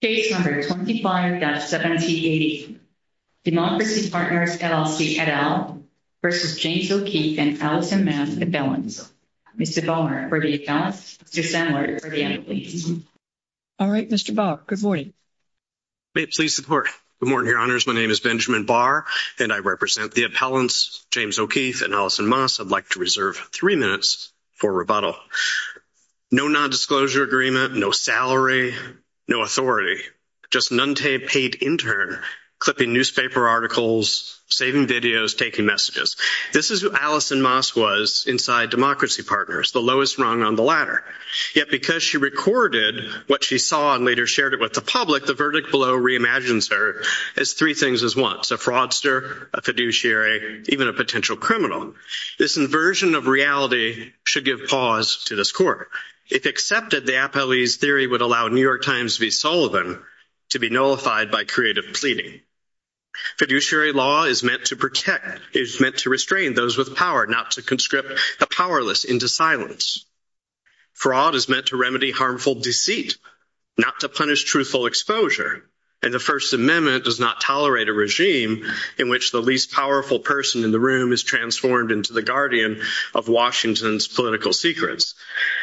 Case number 25-7080, Democracy Partners, LLC, et al. v. James O'Keefe and Allison Maas, Appellants. Mr. Ballmer for the appellants, Mr. Sandler for the employees. All right, Mr. Barr, good morning. May it please the Court. Good morning, Your Honors. My name is Benjamin Barr, and I represent the appellants James O'Keefe and Allison Maas. I'd like to reserve three minutes for rebuttal. No nondisclosure agreement, no salary, no authority, just an unpaid intern clipping newspaper articles, saving videos, taking messages. This is who Allison Maas was inside Democracy Partners, the lowest rung on the ladder. Yet because she recorded what she saw and later shared it with the public, the verdict below reimagines her as three things at once, a fraudster, a fiduciary, even a potential criminal. This inversion of reality should give pause to this Court. If accepted, the appellee's theory would allow New York Times v. Sullivan to be nullified by creative pleading. Fiduciary law is meant to restrain those with power, not to conscript the powerless into silence. Fraud is meant to remedy harmful deceit, not to punish truthful exposure. And the First Amendment does not tolerate a regime in which the least powerful person in the room is transformed into the guardian of Washington's political secrets.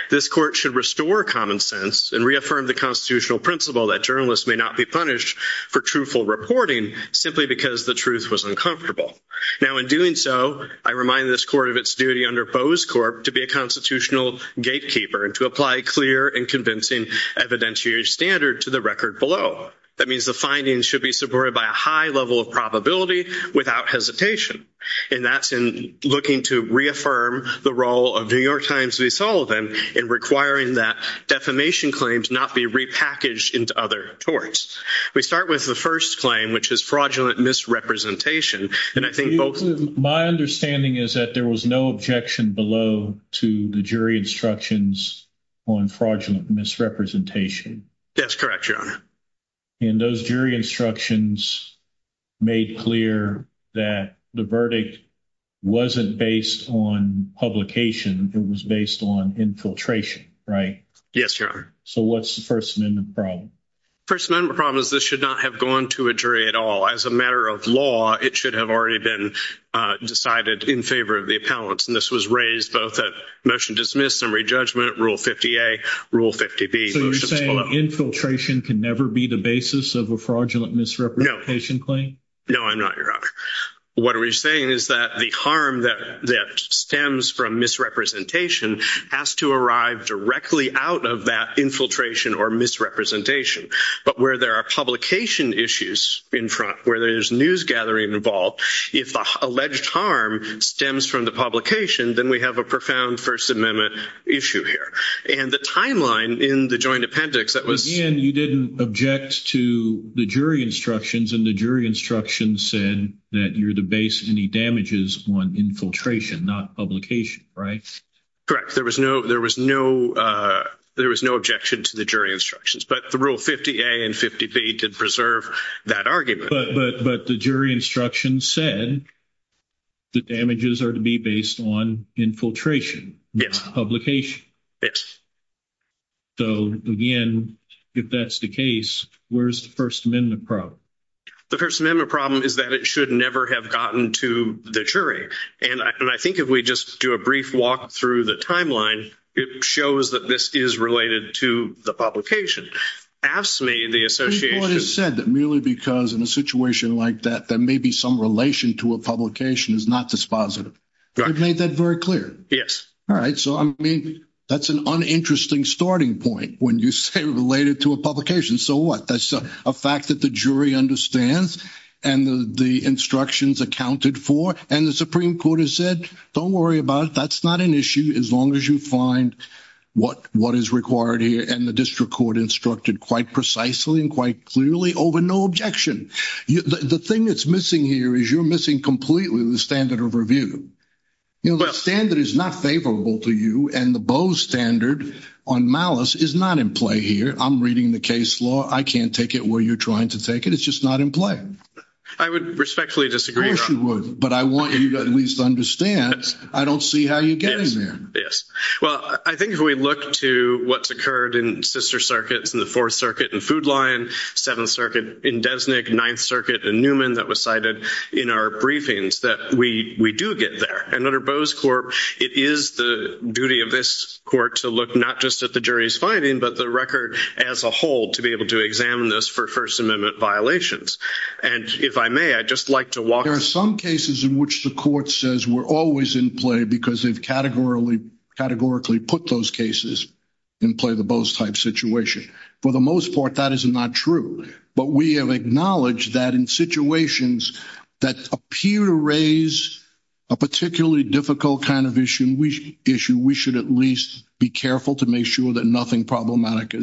This Court should restore common sense and reaffirm the constitutional principle that journalists may not be punished for truthful reporting simply because the truth was uncomfortable. Now, in doing so, I remind this Court of its duty under Bose Corp. to be a constitutional gatekeeper and to apply a clear and convincing evidentiary standard to the record below. That means the findings should be supported by a high level of probability without hesitation. And that's in looking to reaffirm the role of New York Times v. Sullivan in requiring that defamation claims not be repackaged into other torts. We start with the first claim, which is fraudulent misrepresentation. My understanding is that there was no objection below to the jury instructions on fraudulent misrepresentation. That's correct, Your Honor. And those jury instructions made clear that the verdict wasn't based on publication. It was based on infiltration, right? Yes, Your Honor. So what's the First Amendment problem? The First Amendment problem is this should not have gone to a jury at all. As a matter of law, it should have already been decided in favor of the appellants. And this was raised both at motion dismissed and re-judgment, Rule 50A, Rule 50B. So you're saying infiltration can never be the basis of a fraudulent misrepresentation claim? No, I'm not, Your Honor. What are we saying is that the harm that stems from misrepresentation has to arrive directly out of that infiltration or misrepresentation. But where there are publication issues in front, where there's news gathering involved, if the alleged harm stems from the publication, then we have a profound First Amendment issue here. And the timeline in the joint appendix that was— You're saying that you're the base of any damages on infiltration, not publication, right? Correct. There was no objection to the jury instructions. But the Rule 50A and 50B did preserve that argument. But the jury instructions said the damages are to be based on infiltration, not publication. Yes. So, again, if that's the case, where's the First Amendment problem? The First Amendment problem is that it should never have gotten to the jury. And I think if we just do a brief walk through the timeline, it shows that this is related to the publication. Ask me, the association— People have said that merely because in a situation like that there may be some relation to a publication is not dispositive. Correct. You've made that very clear. Yes. All right. So, I mean, that's an uninteresting starting point when you say related to a publication. So what? That's a fact that the jury understands and the instructions accounted for. And the Supreme Court has said, don't worry about it. That's not an issue as long as you find what is required here. And the district court instructed quite precisely and quite clearly over no objection. The thing that's missing here is you're missing completely the standard of review. You know, the standard is not favorable to you. And the Boe standard on malice is not in play here. I'm reading the case law. I can't take it where you're trying to take it. It's just not in play. I would respectfully disagree. Of course you would. But I want you to at least understand I don't see how you're getting there. Yes. Well, I think if we look to what's occurred in sister circuits, in the Fourth Circuit and Food Line, Seventh Circuit in Desnick, Ninth Circuit in Newman that was cited in our briefings, that we do get there. And under Boe's court, it is the duty of this court to look not just at the jury's finding, but the record as a whole to be able to examine this for First Amendment violations. And if I may, I'd just like to walk through. There are some cases in which the court says we're always in play because they've categorically put those cases in play, the Boe's type situation. For the most part, that is not true. But we have acknowledged that in situations that appear to raise a particularly difficult kind of issue, we should at least be careful to make sure that nothing problematic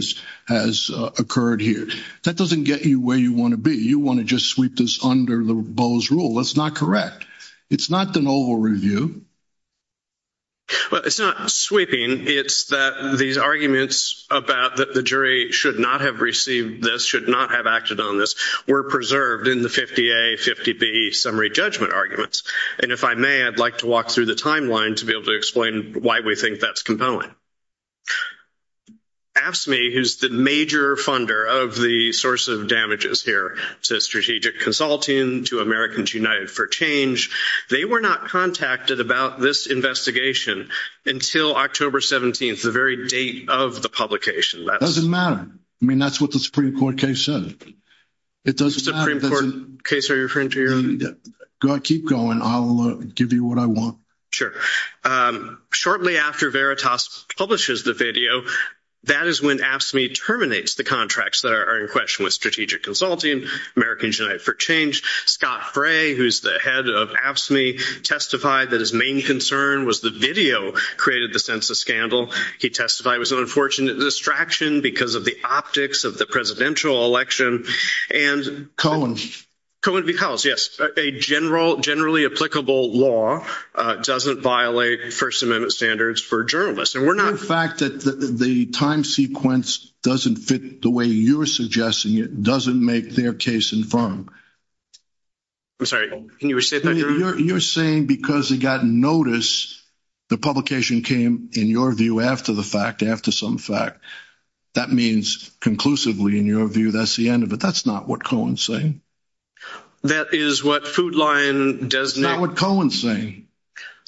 has occurred here. That doesn't get you where you want to be. You want to just sweep this under the Boe's rule. That's not correct. It's not the novel review. Well, it's not sweeping. It's that these arguments about that the jury should not have received this, should not have acted on this, were preserved in the 50A, 50B summary judgment arguments. And if I may, I'd like to walk through the timeline to be able to explain why we think that's compelling. AFSCME, who's the major funder of the source of damages here to Strategic Consulting, to Americans United for Change, they were not contacted about this investigation until October 17th, the very date of the publication. It doesn't matter. I mean, that's what the Supreme Court case said. It doesn't matter. The Supreme Court case, are you referring to your own? Keep going. I'll give you what I want. Sure. Shortly after Veritas publishes the video, that is when AFSCME terminates the contracts that are in question with Strategic Consulting, Americans United for Change, Scott Fray, who's the head of AFSCME, testified that his main concern was the video created the census scandal. He testified it was an unfortunate distraction because of the optics of the presidential election. Cohen. Cohen v. Collins, yes. A generally applicable law doesn't violate First Amendment standards for journalists. The fact that the time sequence doesn't fit the way you're suggesting it doesn't make their case infirmed. Can you restate that? You're saying because it got noticed, the publication came, in your view, after the fact, after some fact. That means conclusively, in your view, that's the end of it. That's not what Cohen's saying. That is what Food Lion does now. That's not what Cohen's saying.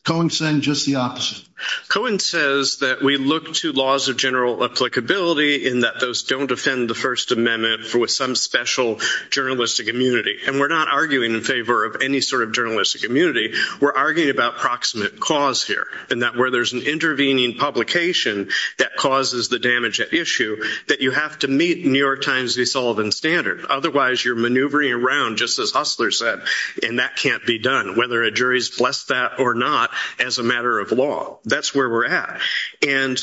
Cohen's saying just the opposite. Cohen says that we look to laws of general applicability in that those don't defend the First Amendment for some special journalistic immunity. And we're not arguing in favor of any sort of journalistic immunity. We're arguing about proximate cause here. And that where there's an intervening publication that causes the damage at issue, that you have to meet New York Times, DeSullivan standard. Otherwise, you're maneuvering around, just as Hustler said, and that can't be done, whether a jury's blessed that or not, as a matter of law. That's where we're at. And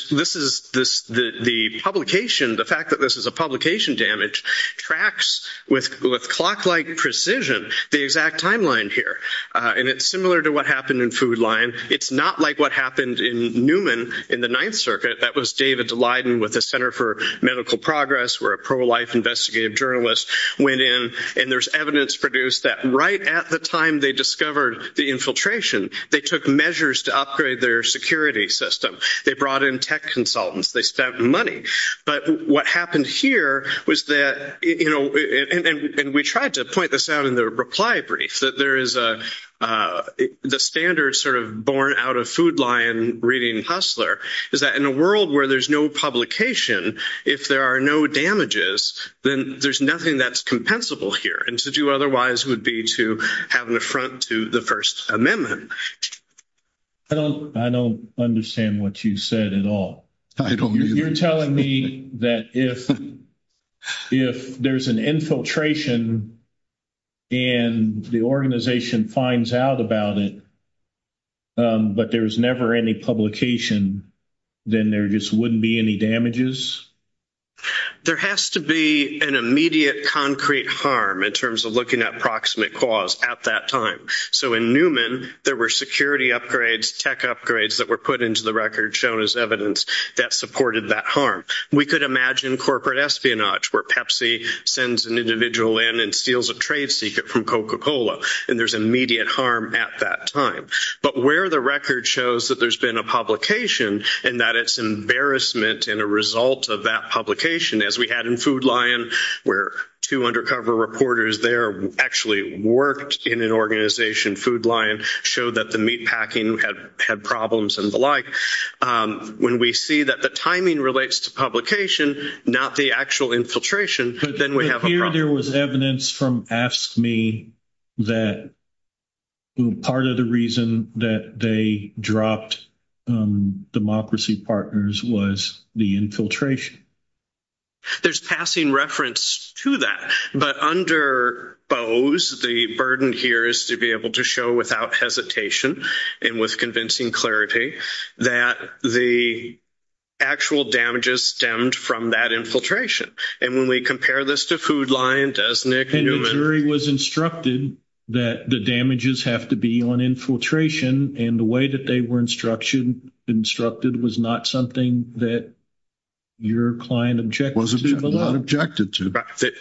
the fact that this is a publication damage tracks, with clock-like precision, the exact timeline here. And it's similar to what happened in Food Lion. It's not like what happened in Newman in the Ninth Circuit. That was David Daleiden with the Center for Medical Progress, where a pro-life investigative journalist went in, and there's evidence produced that right at the time they discovered the infiltration, they took measures to upgrade their security system. They brought in tech consultants. They spent money. But what happened here was that, you know, and we tried to point this out in the reply brief, that there is the standard sort of born out of Food Lion reading Hustler, is that in a world where there's no publication, if there are no damages, then there's nothing that's compensable here. And to do otherwise would be to have an affront to the First Amendment. I don't understand what you said at all. You're telling me that if there's an infiltration and the organization finds out about it, but there's never any publication, then there just wouldn't be any damages? There has to be an immediate concrete harm in terms of looking at proximate cause at that time. So in Newman, there were security upgrades, tech upgrades, that were put into the record shown as evidence that supported that harm. We could imagine corporate espionage where Pepsi sends an individual in and steals a trade secret from Coca-Cola, and there's immediate harm at that time. But where the record shows that there's been a publication, and that it's embarrassment in a result of that publication, as we had in Food Lion, where two undercover reporters there actually worked in an organization, Food Lion, showed that the meatpacking had problems and the like, when we see that the timing relates to publication, not the actual infiltration, then we have a problem. So here there was evidence from AFSCME that part of the reason that they dropped Democracy Partners was the infiltration? There's passing reference to that. But under Bose, the burden here is to be able to show without hesitation and with convincing clarity that the actual damages stemmed from that infiltration. And when we compare this to Food Lion, Desnick, Newman. And the jury was instructed that the damages have to be on infiltration, and the way that they were instructed was not something that your client objected to? Was not objected to.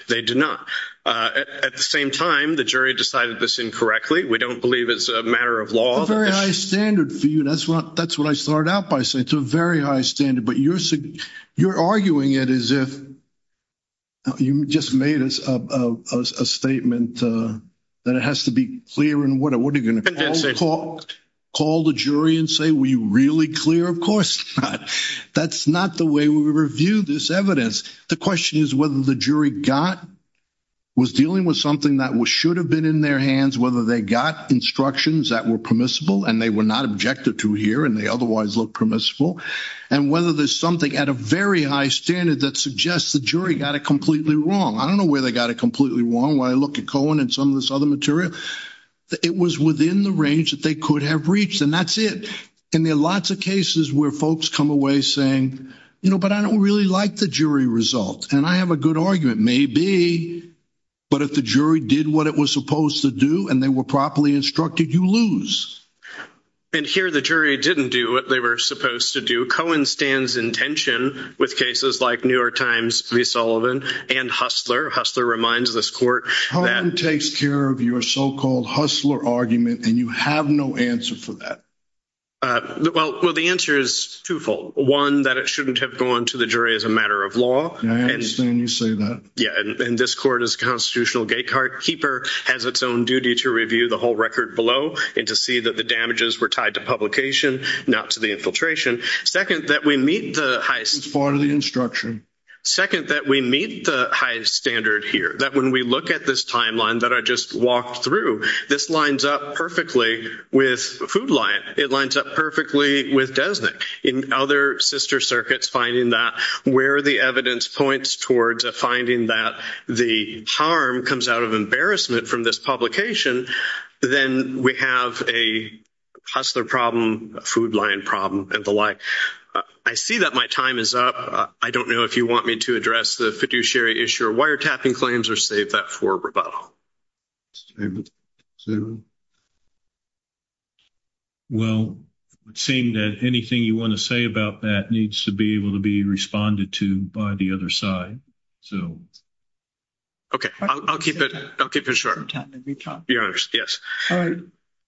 They did not. At the same time, the jury decided this incorrectly. We don't believe it's a matter of law. It's a very high standard for you. That's what I start out by saying. It's a very high standard, but you're arguing it as if you just made a statement that it has to be clear and what are you going to call the jury and say, were you really clear? Of course not. That's not the way we review this evidence. The question is whether the jury was dealing with something that should have been in their hands, whether they got instructions that were permissible and they were not objected to here and they otherwise looked permissible, and whether there's something at a very high standard that suggests the jury got it completely wrong. I don't know where they got it completely wrong. When I look at Cohen and some of this other material, it was within the range that they could have reached, and that's it. And there are lots of cases where folks come away saying, you know, but I don't really like the jury result. And I have a good argument. Maybe, but if the jury did what it was supposed to do and they were properly instructed, you lose. And here the jury didn't do what they were supposed to do. Cohen stands in tension with cases like New York Times v. Sullivan and Hustler. Hustler reminds this court that- Cohen takes care of your so-called Hustler argument and you have no answer for that. Well, the answer is twofold. One, that it shouldn't have gone to the jury as a matter of law. I understand you say that. Yeah, and this court is a constitutional gatekeeper, has its own duty to review the whole record below and to see that the damages were tied to publication, not to the infiltration. Second, that we meet the highest- It's part of the instruction. Second, that we meet the highest standard here, that when we look at this timeline that I just walked through, this lines up perfectly with Food Lion. It lines up perfectly with Desnick. In other sister circuits, finding that where the evidence points towards a finding that the harm comes out of embarrassment from this publication, then we have a Hustler problem, a Food Lion problem, and the like. I see that my time is up. I don't know if you want me to address the fiduciary issue or wiretapping claims or save that for rebuttal. Well, it would seem that anything you want to say about that needs to be able to be responded to by the other side. Okay, I'll keep it short. Your Honor, yes.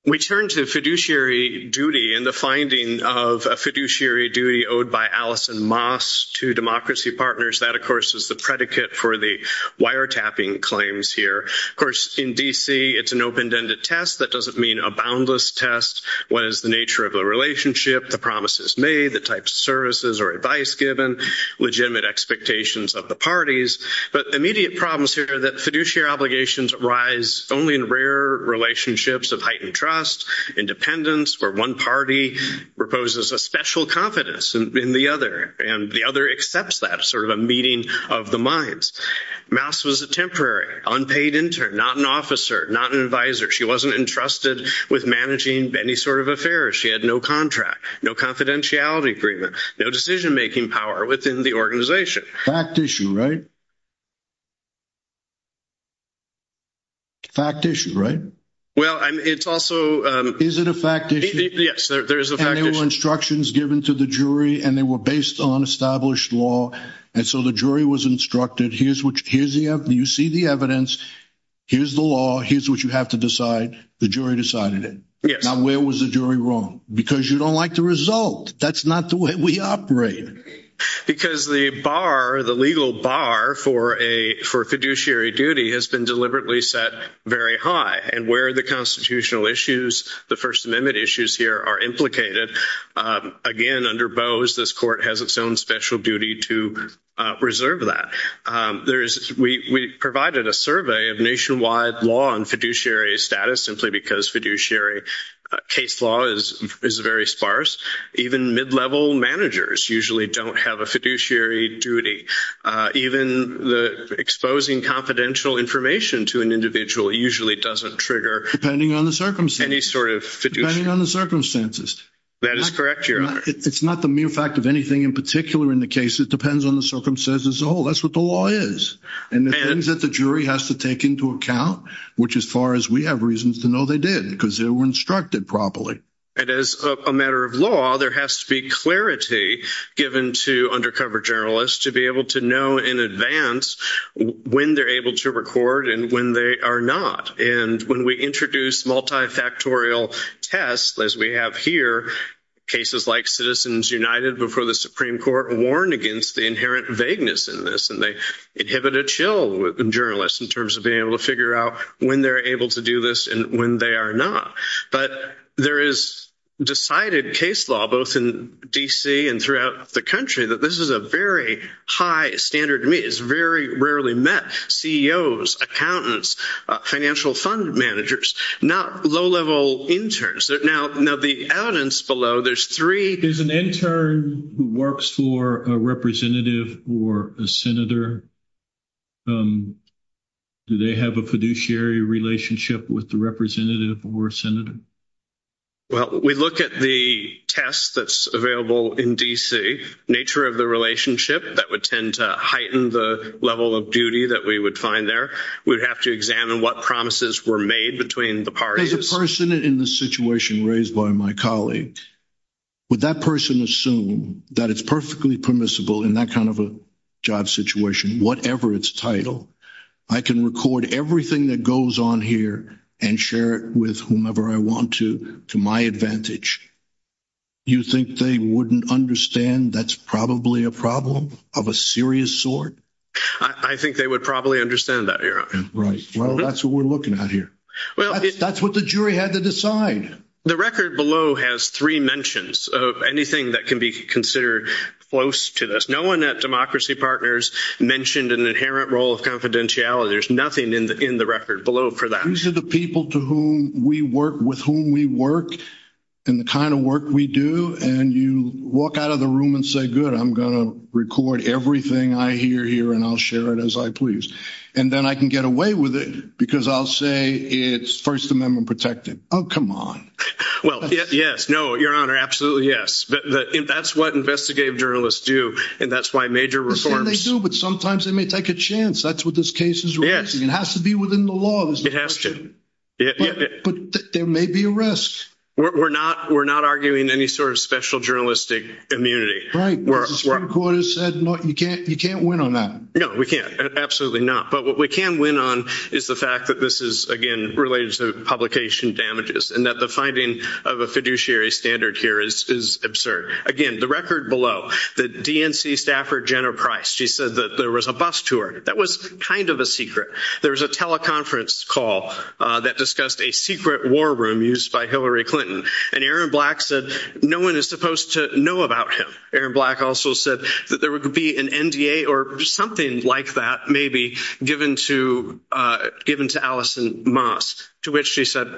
We turn to fiduciary duty and the finding of a fiduciary duty owed by Alice and Moss to democracy partners. That, of course, is the predicate for the wiretapping claims here. Of course, in D.C., it's an open-ended test. That doesn't mean a boundless test. What is the nature of the relationship, the promises made, the types of services or advice given, legitimate expectations of the parties? But immediate problems here are that fiduciary obligations arise only in rare relationships of heightened trust, independence, where one party proposes a special confidence in the other and the other accepts that, sort of a meeting of the minds. Moss was a temporary, unpaid intern, not an officer, not an advisor. She wasn't entrusted with managing any sort of affairs. She had no contract, no confidentiality agreement, no decision-making power within the organization. Fact issue, right? Fact issue, right? Well, it's also – Is it a fact issue? Yes, there is a fact issue. And there were instructions given to the jury and they were based on established law, and so the jury was instructed, here's the evidence, here's the law, here's what you have to decide. The jury decided it. Now, where was the jury wrong? Because you don't like the result. That's not the way we operate. Because the bar, the legal bar for fiduciary duty has been deliberately set very high, and where the constitutional issues, the First Amendment issues here are implicated, again, under Bose, this court has its own special duty to reserve that. We provided a survey of nationwide law and fiduciary status simply because fiduciary case law is very sparse. Even mid-level managers usually don't have a fiduciary duty. Even exposing confidential information to an individual usually doesn't trigger any sort of fiduciary – Depending on the circumstances. That is correct, Your Honor. It's not the mere fact of anything in particular in the case. It depends on the circumstances as a whole. That's what the law is. And the things that the jury has to take into account, which as far as we have reasons to know they did, because they were instructed properly. And as a matter of law, there has to be clarity given to undercover journalists to be able to know in advance when they're able to record and when they are not. And when we introduce multifactorial tests, as we have here, cases like Citizens United before the Supreme Court warn against the inherent vagueness in this. And they inhibit a chill in journalists in terms of being able to figure out when they're able to do this and when they are not. But there is decided case law, both in D.C. and throughout the country, that this is a very high standard to meet. It's very rarely met. CEOs, accountants, financial fund managers, low-level interns. Now, the evidence below, there's three. There's an intern who works for a representative or a senator. Do they have a fiduciary relationship with the representative or senator? Well, we look at the test that's available in D.C., nature of the relationship. That would tend to heighten the level of duty that we would find there. We would have to examine what promises were made between the parties. As a person in this situation raised by my colleague, would that person assume that it's perfectly permissible in that kind of a job situation, whatever its title, I can record everything that goes on here and share it with whomever I want to to my advantage? You think they wouldn't understand that's probably a problem of a serious sort? I think they would probably understand that, Your Honor. Right. Well, that's what we're looking at here. That's what the jury had to decide. The record below has three mentions of anything that can be considered close to this. No one at Democracy Partners mentioned an inherent role of confidentiality. There's nothing in the record below for that. These are the people to whom we work, with whom we work, and the kind of work we do. And you walk out of the room and say, good, I'm going to record everything I hear here, and I'll share it as I please. And then I can get away with it because I'll say it's First Amendment protected. Oh, come on. Well, yes. No, Your Honor, absolutely yes. That's what investigative journalists do, and that's why major reforms. They do, but sometimes they may take a chance. That's what this case is releasing. It has to be within the law. It has to. But there may be a risk. We're not arguing any sort of special journalistic immunity. Right. The Supreme Court has said you can't win on that. No, we can't. Absolutely not. But what we can win on is the fact that this is, again, related to publication damages and that the finding of a fiduciary standard here is absurd. Again, the record below, the DNC staffer, Jenna Price, she said that there was a bus tour. That was kind of a secret. There was a teleconference call that discussed a secret war room used by Hillary Clinton, and Aaron Black said no one is supposed to know about him. Aaron Black also said that there would be an NDA or something like that, maybe, given to Allison Moss, to which she said,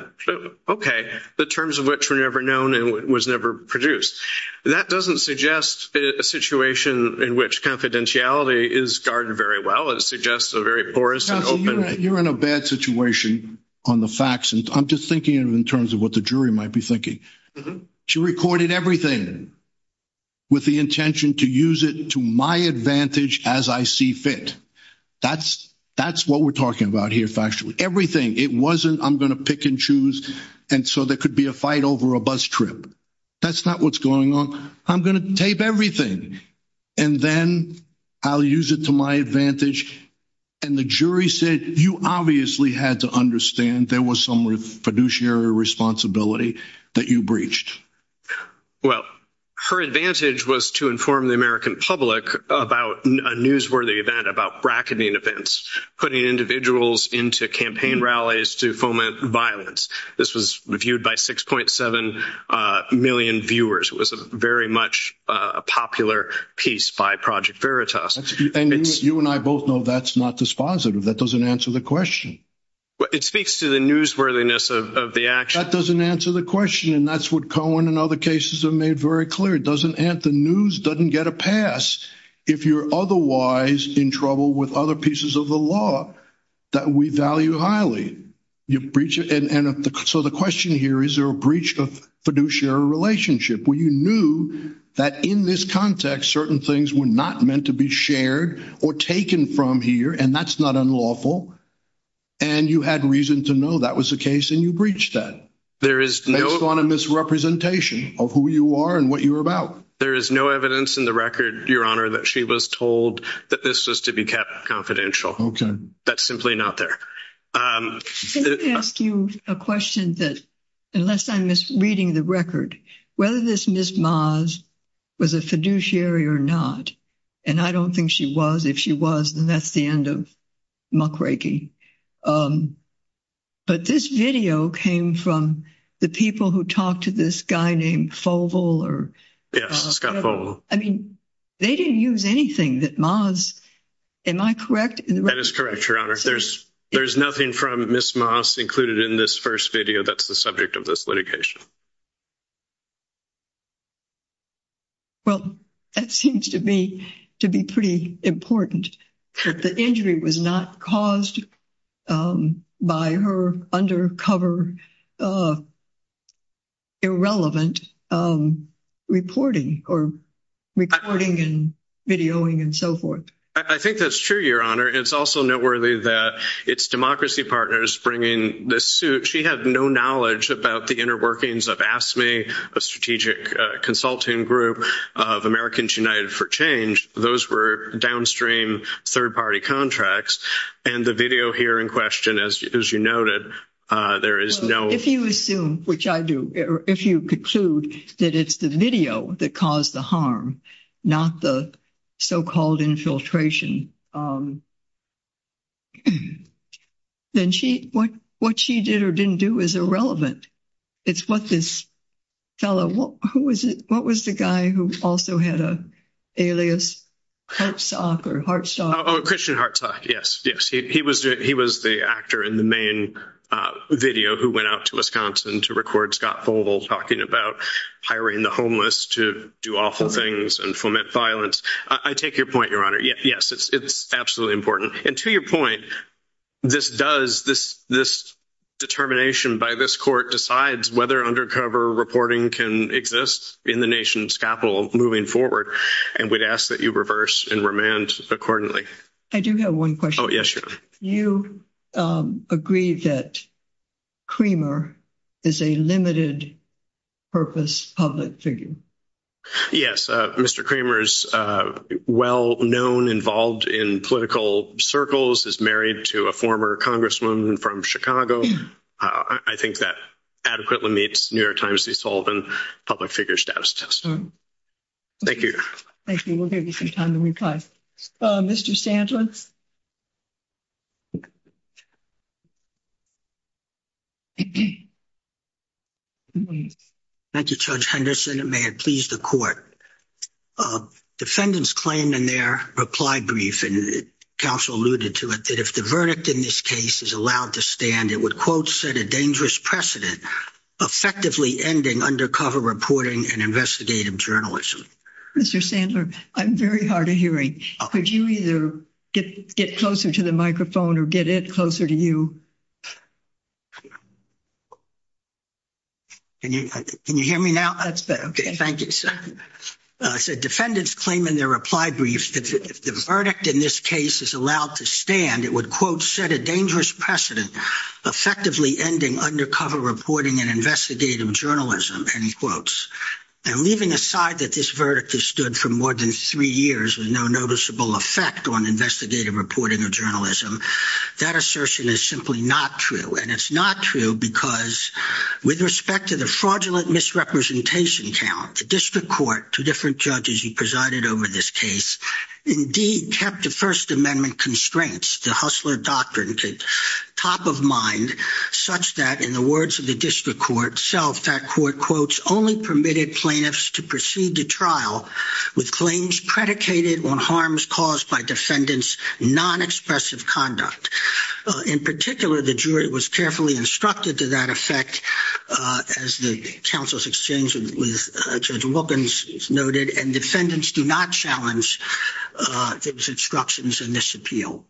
okay, the terms of which were never known and was never produced. That doesn't suggest a situation in which confidentiality is guarded very well. It suggests a very porous and open – Counselor, you're in a bad situation on the facts, and I'm just thinking in terms of what the jury might be thinking. She recorded everything with the intention to use it to my advantage as I see fit. That's what we're talking about here factually. Everything. It wasn't I'm going to pick and choose, and so there could be a fight over a bus trip. That's not what's going on. I'm going to tape everything, and then I'll use it to my advantage. And the jury said you obviously had to understand there was some fiduciary responsibility that you breached. Well, her advantage was to inform the American public about a newsworthy event, about bracketing events, putting individuals into campaign rallies to foment violence. This was reviewed by 6.7 million viewers. It was very much a popular piece by Project Veritas. And you and I both know that's not dispositive. That doesn't answer the question. It speaks to the newsworthiness of the action. That doesn't answer the question, and that's what Cohen and other cases have made very clear. The news doesn't get a pass if you're otherwise in trouble with other pieces of the law that we value highly. So the question here is there a breach of fiduciary relationship where you knew that in this context certain things were not meant to be shared or taken from here, and that's not unlawful, and you had reason to know that was the case and you breached that. There is no misrepresentation of who you are and what you're about. There is no evidence in the record, Your Honor, that she was told that this was to be kept confidential. That's simply not there. Let me ask you a question that, unless I'm misreading the record, whether this Ms. Maas was a fiduciary or not, and I don't think she was. If she was, then that's the end of muckraking. But this video came from the people who talked to this guy named Fovle. Yes, Scott Fovle. I mean, they didn't use anything that Maas, am I correct? That is correct, Your Honor. There's nothing from Ms. Maas included in this first video that's the subject of this litigation. Well, that seems to me to be pretty important, that the injury was not caused by her undercover irrelevant reporting or recording and videoing and so forth. I think that's true, Your Honor. It's also noteworthy that its democracy partners bringing this suit, she had no knowledge about the inner workings of AFSCME, a strategic consulting group of Americans United for Change. Those were downstream third-party contracts. And the video here in question, as you noted, there is no— If you assume, which I do, if you conclude that it's the video that caused the harm, not the so-called infiltration, then what she did or didn't do is irrelevant. It's what this fellow— What was the guy who also had an alias, Hartsock or Hartstock? Oh, Christian Hartsock, yes. He was the actor in the main video who went out to Wisconsin to record Scott Fovle talking about hiring the homeless to do awful things and foment violence. I take your point, Your Honor. Yes, it's absolutely important. And to your point, this does— This determination by this court decides whether undercover reporting can exist in the nation's capital moving forward. And we'd ask that you reverse and remand accordingly. I do have one question. Oh, yes, Your Honor. You agree that Kramer is a limited-purpose public figure. Yes, Mr. Kramer is well-known, involved in political circles, is married to a former congresswoman from Chicago. I think that adequately meets New York Times' desolvent public figure status test. Thank you, Your Honor. Thank you. We'll give you some time to reply. Mr. Sandlins? Thank you, Judge Henderson, and may it please the court. Defendants claimed in their reply brief, and counsel alluded to it, that if the verdict in this case is allowed to stand, it would, quote, set a dangerous precedent, effectively ending undercover reporting and investigative journalism. Mr. Sandlins, I'm very hard of hearing. Could you either get close to the mic, get closer to the microphone, or get it closer to you? Can you hear me now? That's better. Okay, thank you. Defendants claim in their reply brief that if the verdict in this case is allowed to stand, it would, quote, set a dangerous precedent, effectively ending undercover reporting and investigative journalism, end quotes. And leaving aside that this verdict has stood for more than three years with no noticeable effect on investigative reporting or journalism, that assertion is simply not true. And it's not true because with respect to the fraudulent misrepresentation count, the district court, two different judges who presided over this case, indeed kept the First Amendment constraints, the Hustler Doctrine, top of mind, such that in the words of the district court itself, that court, quote, this only permitted plaintiffs to proceed to trial with claims predicated on harms caused by defendants' non-expressive conduct. In particular, the jury was carefully instructed to that effect, as the counsel's exchange with Judge Wilkins noted, and defendants do not challenge those instructions in this appeal.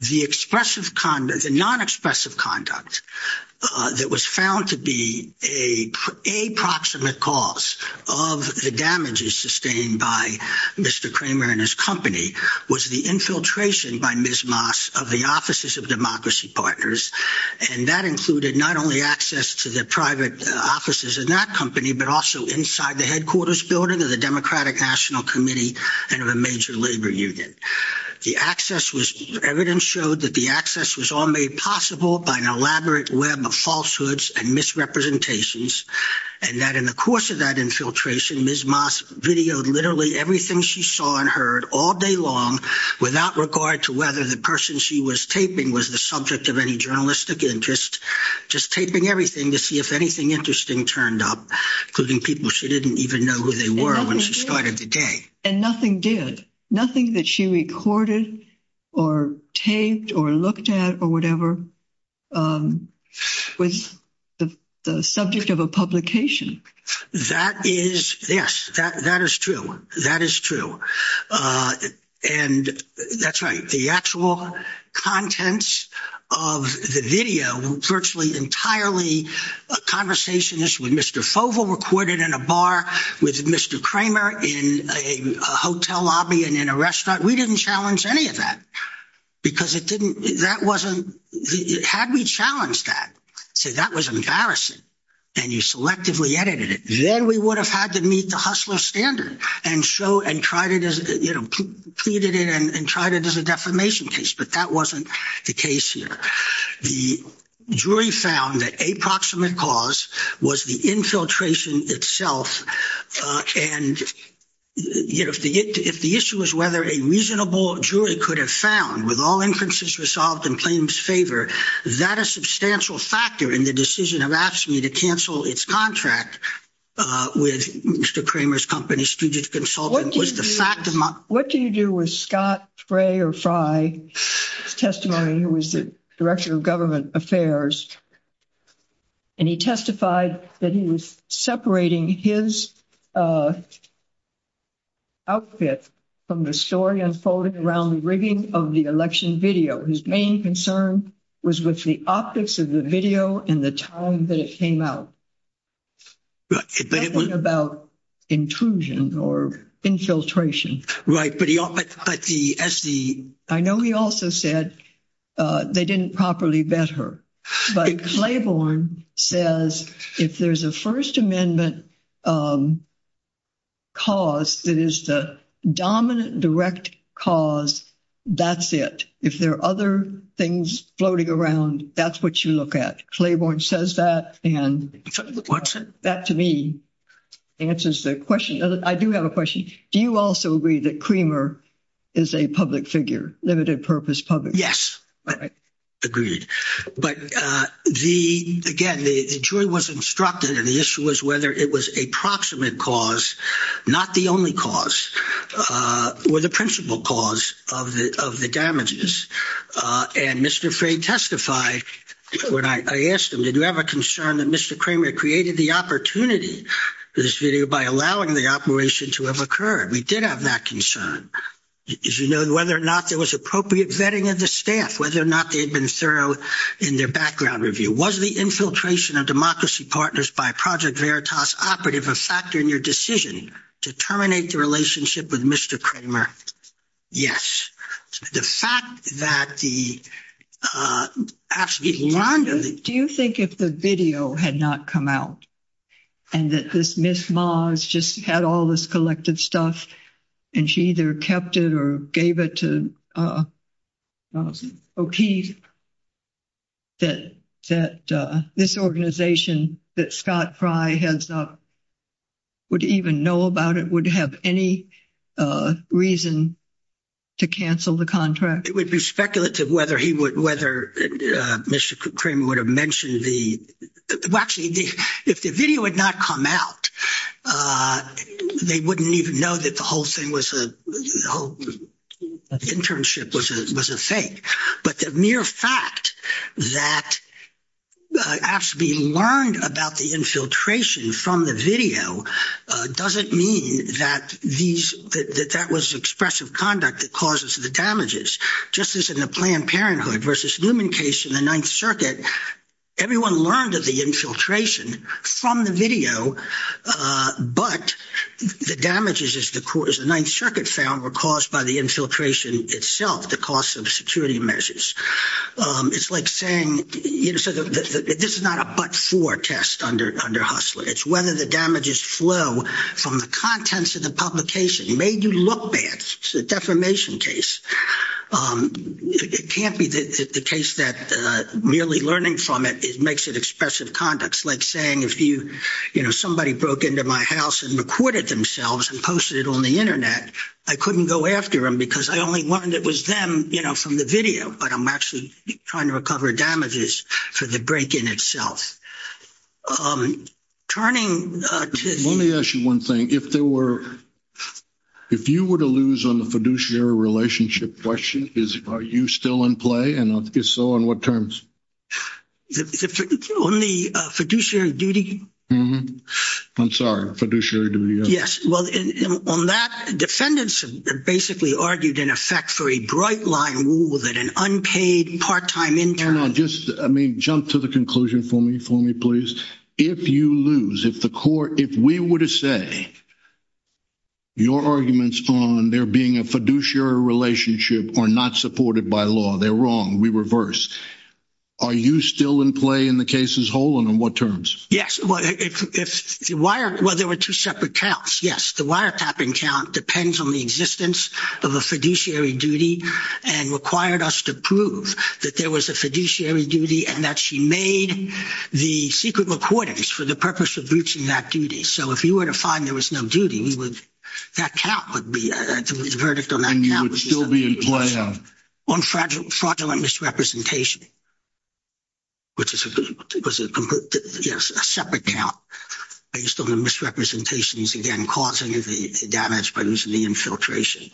The non-expressive conduct that was found to be a proximate cause of the damages sustained by Mr. Kramer and his company was the infiltration by Ms. Moss of the offices of Democracy Partners. And that included not only access to the private offices in that company, but also inside the headquarters building of the Democratic National Committee and of a major labor union. Evidence showed that the access was all made possible by an elaborate web of falsehoods and misrepresentations, and that in the course of that infiltration, Ms. Moss videoed literally everything she saw and heard all day long, without regard to whether the person she was taping was the subject of any journalistic interest, just taping everything to see if anything interesting turned up, including people she didn't even know who they were when she started the day. And nothing did. Nothing that she recorded or taped or looked at or whatever was the subject of a publication. That is, yes, that is true. That is true. And that's right. The actual contents of the video were virtually entirely a conversation with Mr. Foval recorded in a bar, with Mr. Kramer in a hotel lobby and in a restaurant. We didn't challenge any of that because it didn't, that wasn't, had we challenged that, say that was embarrassing and you selectively edited it, then we would have had to meet the Hustler standard and show and tried it as, you know, pleaded it and tried it as a defamation case. But that wasn't the case here. The jury found that a proximate cause was the infiltration itself. And if the issue was whether a reasonable jury could have found with all inferences resolved in claims favor, that a substantial factor in the decision of AFSCME to cancel its contract with Mr. Kramer's company, Student Consultant, was the fact of my- Director of Government Affairs. And he testified that he was separating his outfit from the story unfolding around the rigging of the election video. His main concern was with the optics of the video and the time that it came out. It wasn't about intrusion or infiltration. Right, but the- I know he also said they didn't properly vet her. But Claiborne says if there's a First Amendment cause that is the dominant direct cause, that's it. If there are other things floating around, that's what you look at. Claiborne says that, and that to me answers the question. I do have a question. Do you also agree that Kramer is a public figure, limited-purpose public figure? Yes, I agree. But, again, the jury was instructed, and the issue was whether it was a proximate cause, not the only cause, or the principal cause of the damages. And Mr. Frey testified when I asked him, did you have a concern that Mr. Kramer created the opportunity for this video by allowing the operation to have occurred? We did have that concern. As you know, whether or not there was appropriate vetting of the staff, whether or not they had been thorough in their background review. Was the infiltration of Democracy Partners by Project Veritas operative a factor in your decision to terminate the relationship with Mr. Kramer? Yes. The fact that the- Rhonda, do you think if the video had not come out, and that this Ms. Moss just had all this collected stuff, and she either kept it or gave it to O'Keefe, that this organization that Scott Frey heads up would even know about it, would have any reason to cancel the contract? It would be speculative whether Mr. Kramer would have mentioned the- well, actually, if the video had not come out, they wouldn't even know that the whole thing was a- the whole internship was a fake. But the mere fact that AFSCME learned about the infiltration from the video doesn't mean that that was expressive conduct that causes the damages. Just as in the Planned Parenthood versus Newman case in the Ninth Circuit, everyone learned of the infiltration from the video, but the damages, as the Ninth Circuit found, were caused by the infiltration itself, the cost of security measures. It's like saying- this is not a but-for test under Hustler. It's whether the damages flow from the contents of the publication made you look bad. It's a defamation case. It can't be the case that merely learning from it makes it expressive conduct. It's like saying if you- you know, somebody broke into my house and recorded themselves and posted it on the Internet, I couldn't go after them because I only learned it was them, you know, from the video, but I'm actually trying to recover damages for the break-in itself. Turning to- Let me ask you one thing. If you were to lose on the fiduciary relationship question, are you still in play? And if so, on what terms? On the fiduciary duty? Mm-hmm. I'm sorry. Fiduciary duty. Yes. Well, on that, defendants basically argued, in effect, for a bright-line rule that an unpaid part-time intern- Let me jump to the conclusion for me, for me, please. If you lose, if the court- if we were to say your arguments on there being a fiduciary relationship are not supported by law, they're wrong, we reverse, are you still in play in the case as a whole, and on what terms? Yes. Well, there were two separate counts, yes. The wiretapping count depends on the existence of a fiduciary duty and required us to prove that there was a fiduciary duty and that she made the secret recordings for the purpose of reaching that duty. So if you were to find there was no duty, we would- that count would be- the verdict on that count- And you would still be in play. On fraudulent misrepresentation, which was a separate count, based on the misrepresentations again causing the damage by losing the infiltration.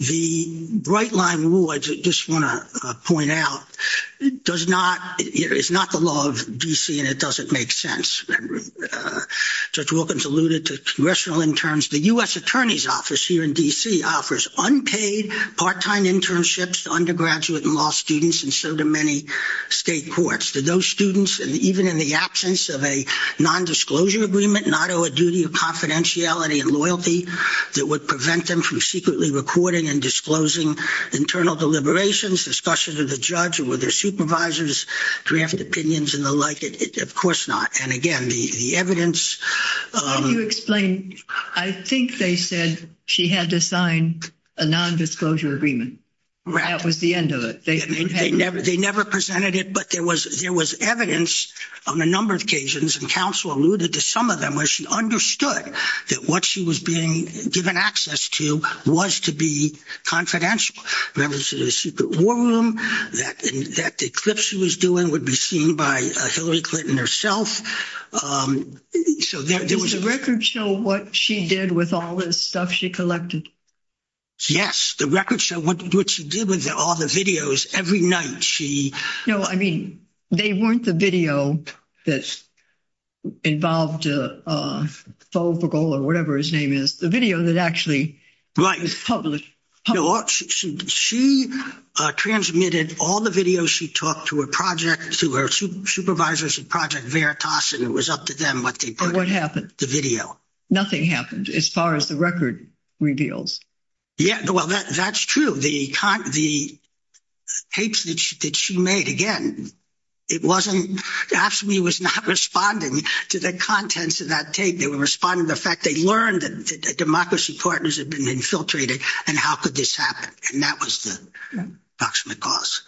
The bright line rule I just want to point out does not- it's not the law of D.C. and it doesn't make sense. Judge Wilkins alluded to congressional interns. The U.S. Attorney's Office here in D.C. offers unpaid part-time internships to undergraduate and law students and so do many state courts. Do those students, even in the absence of a nondisclosure agreement, not owe a duty of confidentiality and loyalty that would prevent them from secretly recording and disclosing internal deliberations, discussions with the judge or with their supervisors, draft opinions and the like? Of course not. And again, the evidence- Can you explain? I think they said she had to sign a nondisclosure agreement. Correct. That was the end of it. They never presented it, but there was evidence on a number of occasions and counsel alluded to some of them where she understood that what she was being given access to was to be confidential. There was a secret war room, that the clips she was doing would be seen by Hillary Clinton herself. So there was- Does the record show what she did with all this stuff she collected? Yes. The record show what she did with all the videos. Every night she- No, I mean, they weren't the video that involved Fogel or whatever his name is. The video that actually was published- She transmitted all the videos she talked to her project, to her supervisors at Project Veritas, and it was up to them what they put- What happened? The video. Nothing happened as far as the record reveals. Yeah, well, that's true. The tapes that she made, again, it wasn't- Absolutely was not responding to the contents of that tape. They were responding to the fact they learned that democracy partners had been infiltrated, and how could this happen? And that was the approximate cause.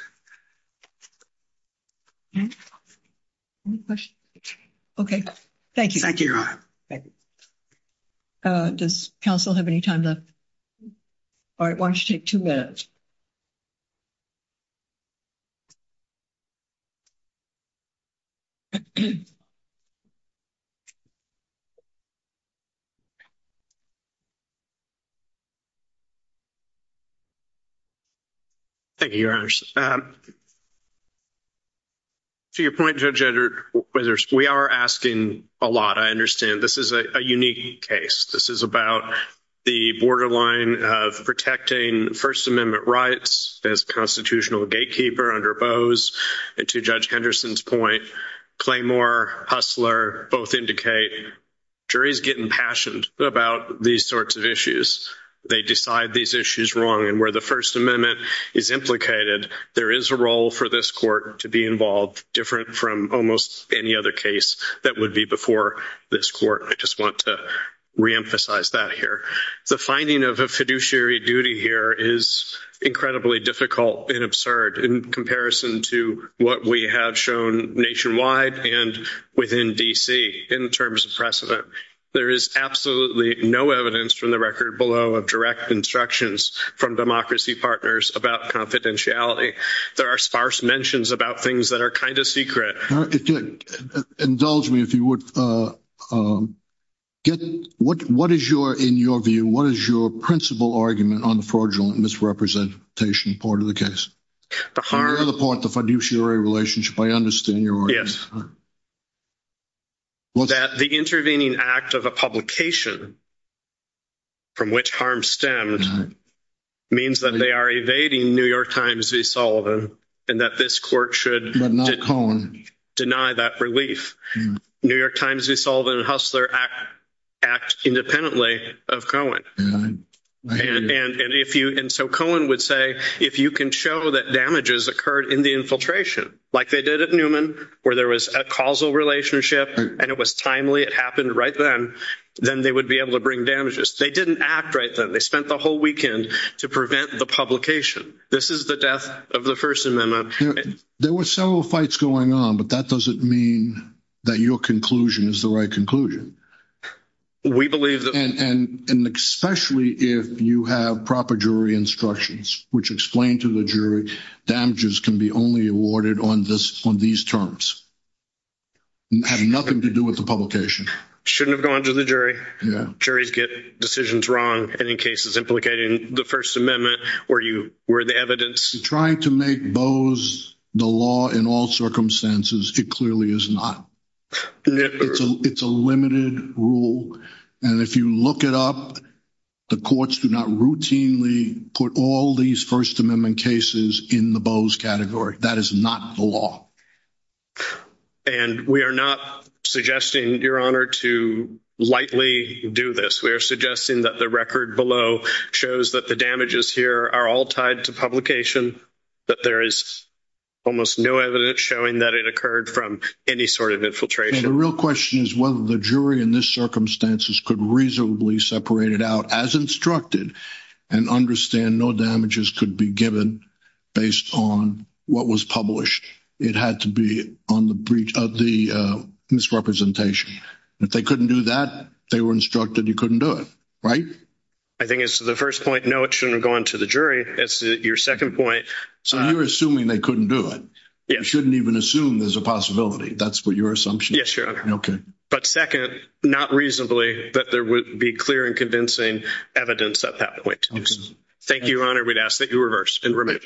Any questions? Okay, thank you. Thank you. Does counsel have any time left? All right, why don't you take two minutes? Thank you, Your Honors. To your point, Judge Edwards, we are asking a lot. I understand this is a unique case. This is about the borderline of protecting First Amendment rights as a constitutional gatekeeper under Bose. And to Judge Henderson's point, Claymore, Hustler both indicate juries get impassioned about these sorts of issues. They decide these issues wrong. And where the First Amendment is implicated, there is a role for this court to be involved, different from almost any other case that would be before this court. I just want to reemphasize that here. The finding of a fiduciary duty here is incredibly difficult and absurd in comparison to what we have shown nationwide and within D.C. in terms of precedent. There is absolutely no evidence from the record below of direct instructions from democracy partners about confidentiality. There are sparse mentions about things that are kind of secret. Indulge me if you would. What is your, in your view, what is your principal argument on the fraudulent misrepresentation part of the case? The harm. The fiduciary relationship. I understand your argument. Yes. That the intervening act of a publication from which harm stemmed means that they are evading New York Times v. Sullivan and that this court should deny that relief. New York Times v. Sullivan and Hustler act independently of Cohen. And so Cohen would say, if you can show that damages occurred in the infiltration, like they did at Newman where there was a causal relationship and it was timely, it happened right then, then they would be able to bring damages. They didn't act right then. They spent the whole weekend to prevent the publication. This is the death of the First Amendment. There were several fights going on, but that doesn't mean that your conclusion is the right conclusion. We believe that. And especially if you have proper jury instructions, which explain to the jury damages can be only awarded on these terms, have nothing to do with the publication. Shouldn't have gone to the jury. Juries get decisions wrong. And in cases implicating the First Amendment, where you were the evidence. Trying to make Boe's the law in all circumstances, it clearly is not. It's a limited rule. And if you look it up, the courts do not routinely put all these First Amendment cases in the Boe's category. That is not the law. And we are not suggesting, to lightly do this. We are suggesting that the record below shows that the damages here are all tied to publication. That there is almost no evidence showing that it occurred from any sort of infiltration. The real question is whether the jury in this circumstances could reasonably separate it out as instructed and understand no damages could be given based on what was published. It had to be on the breach of the misrepresentation. If they couldn't do that, they were instructed you couldn't do it, right? I think it's the first point. No, it shouldn't have gone to the jury. It's your second point. So you're assuming they couldn't do it. You shouldn't even assume there's a possibility. That's what your assumption is. Okay. But second, not reasonably that there would be clear and convincing evidence at that point. Thank you, Your Honor. We'd ask that you reverse and remove.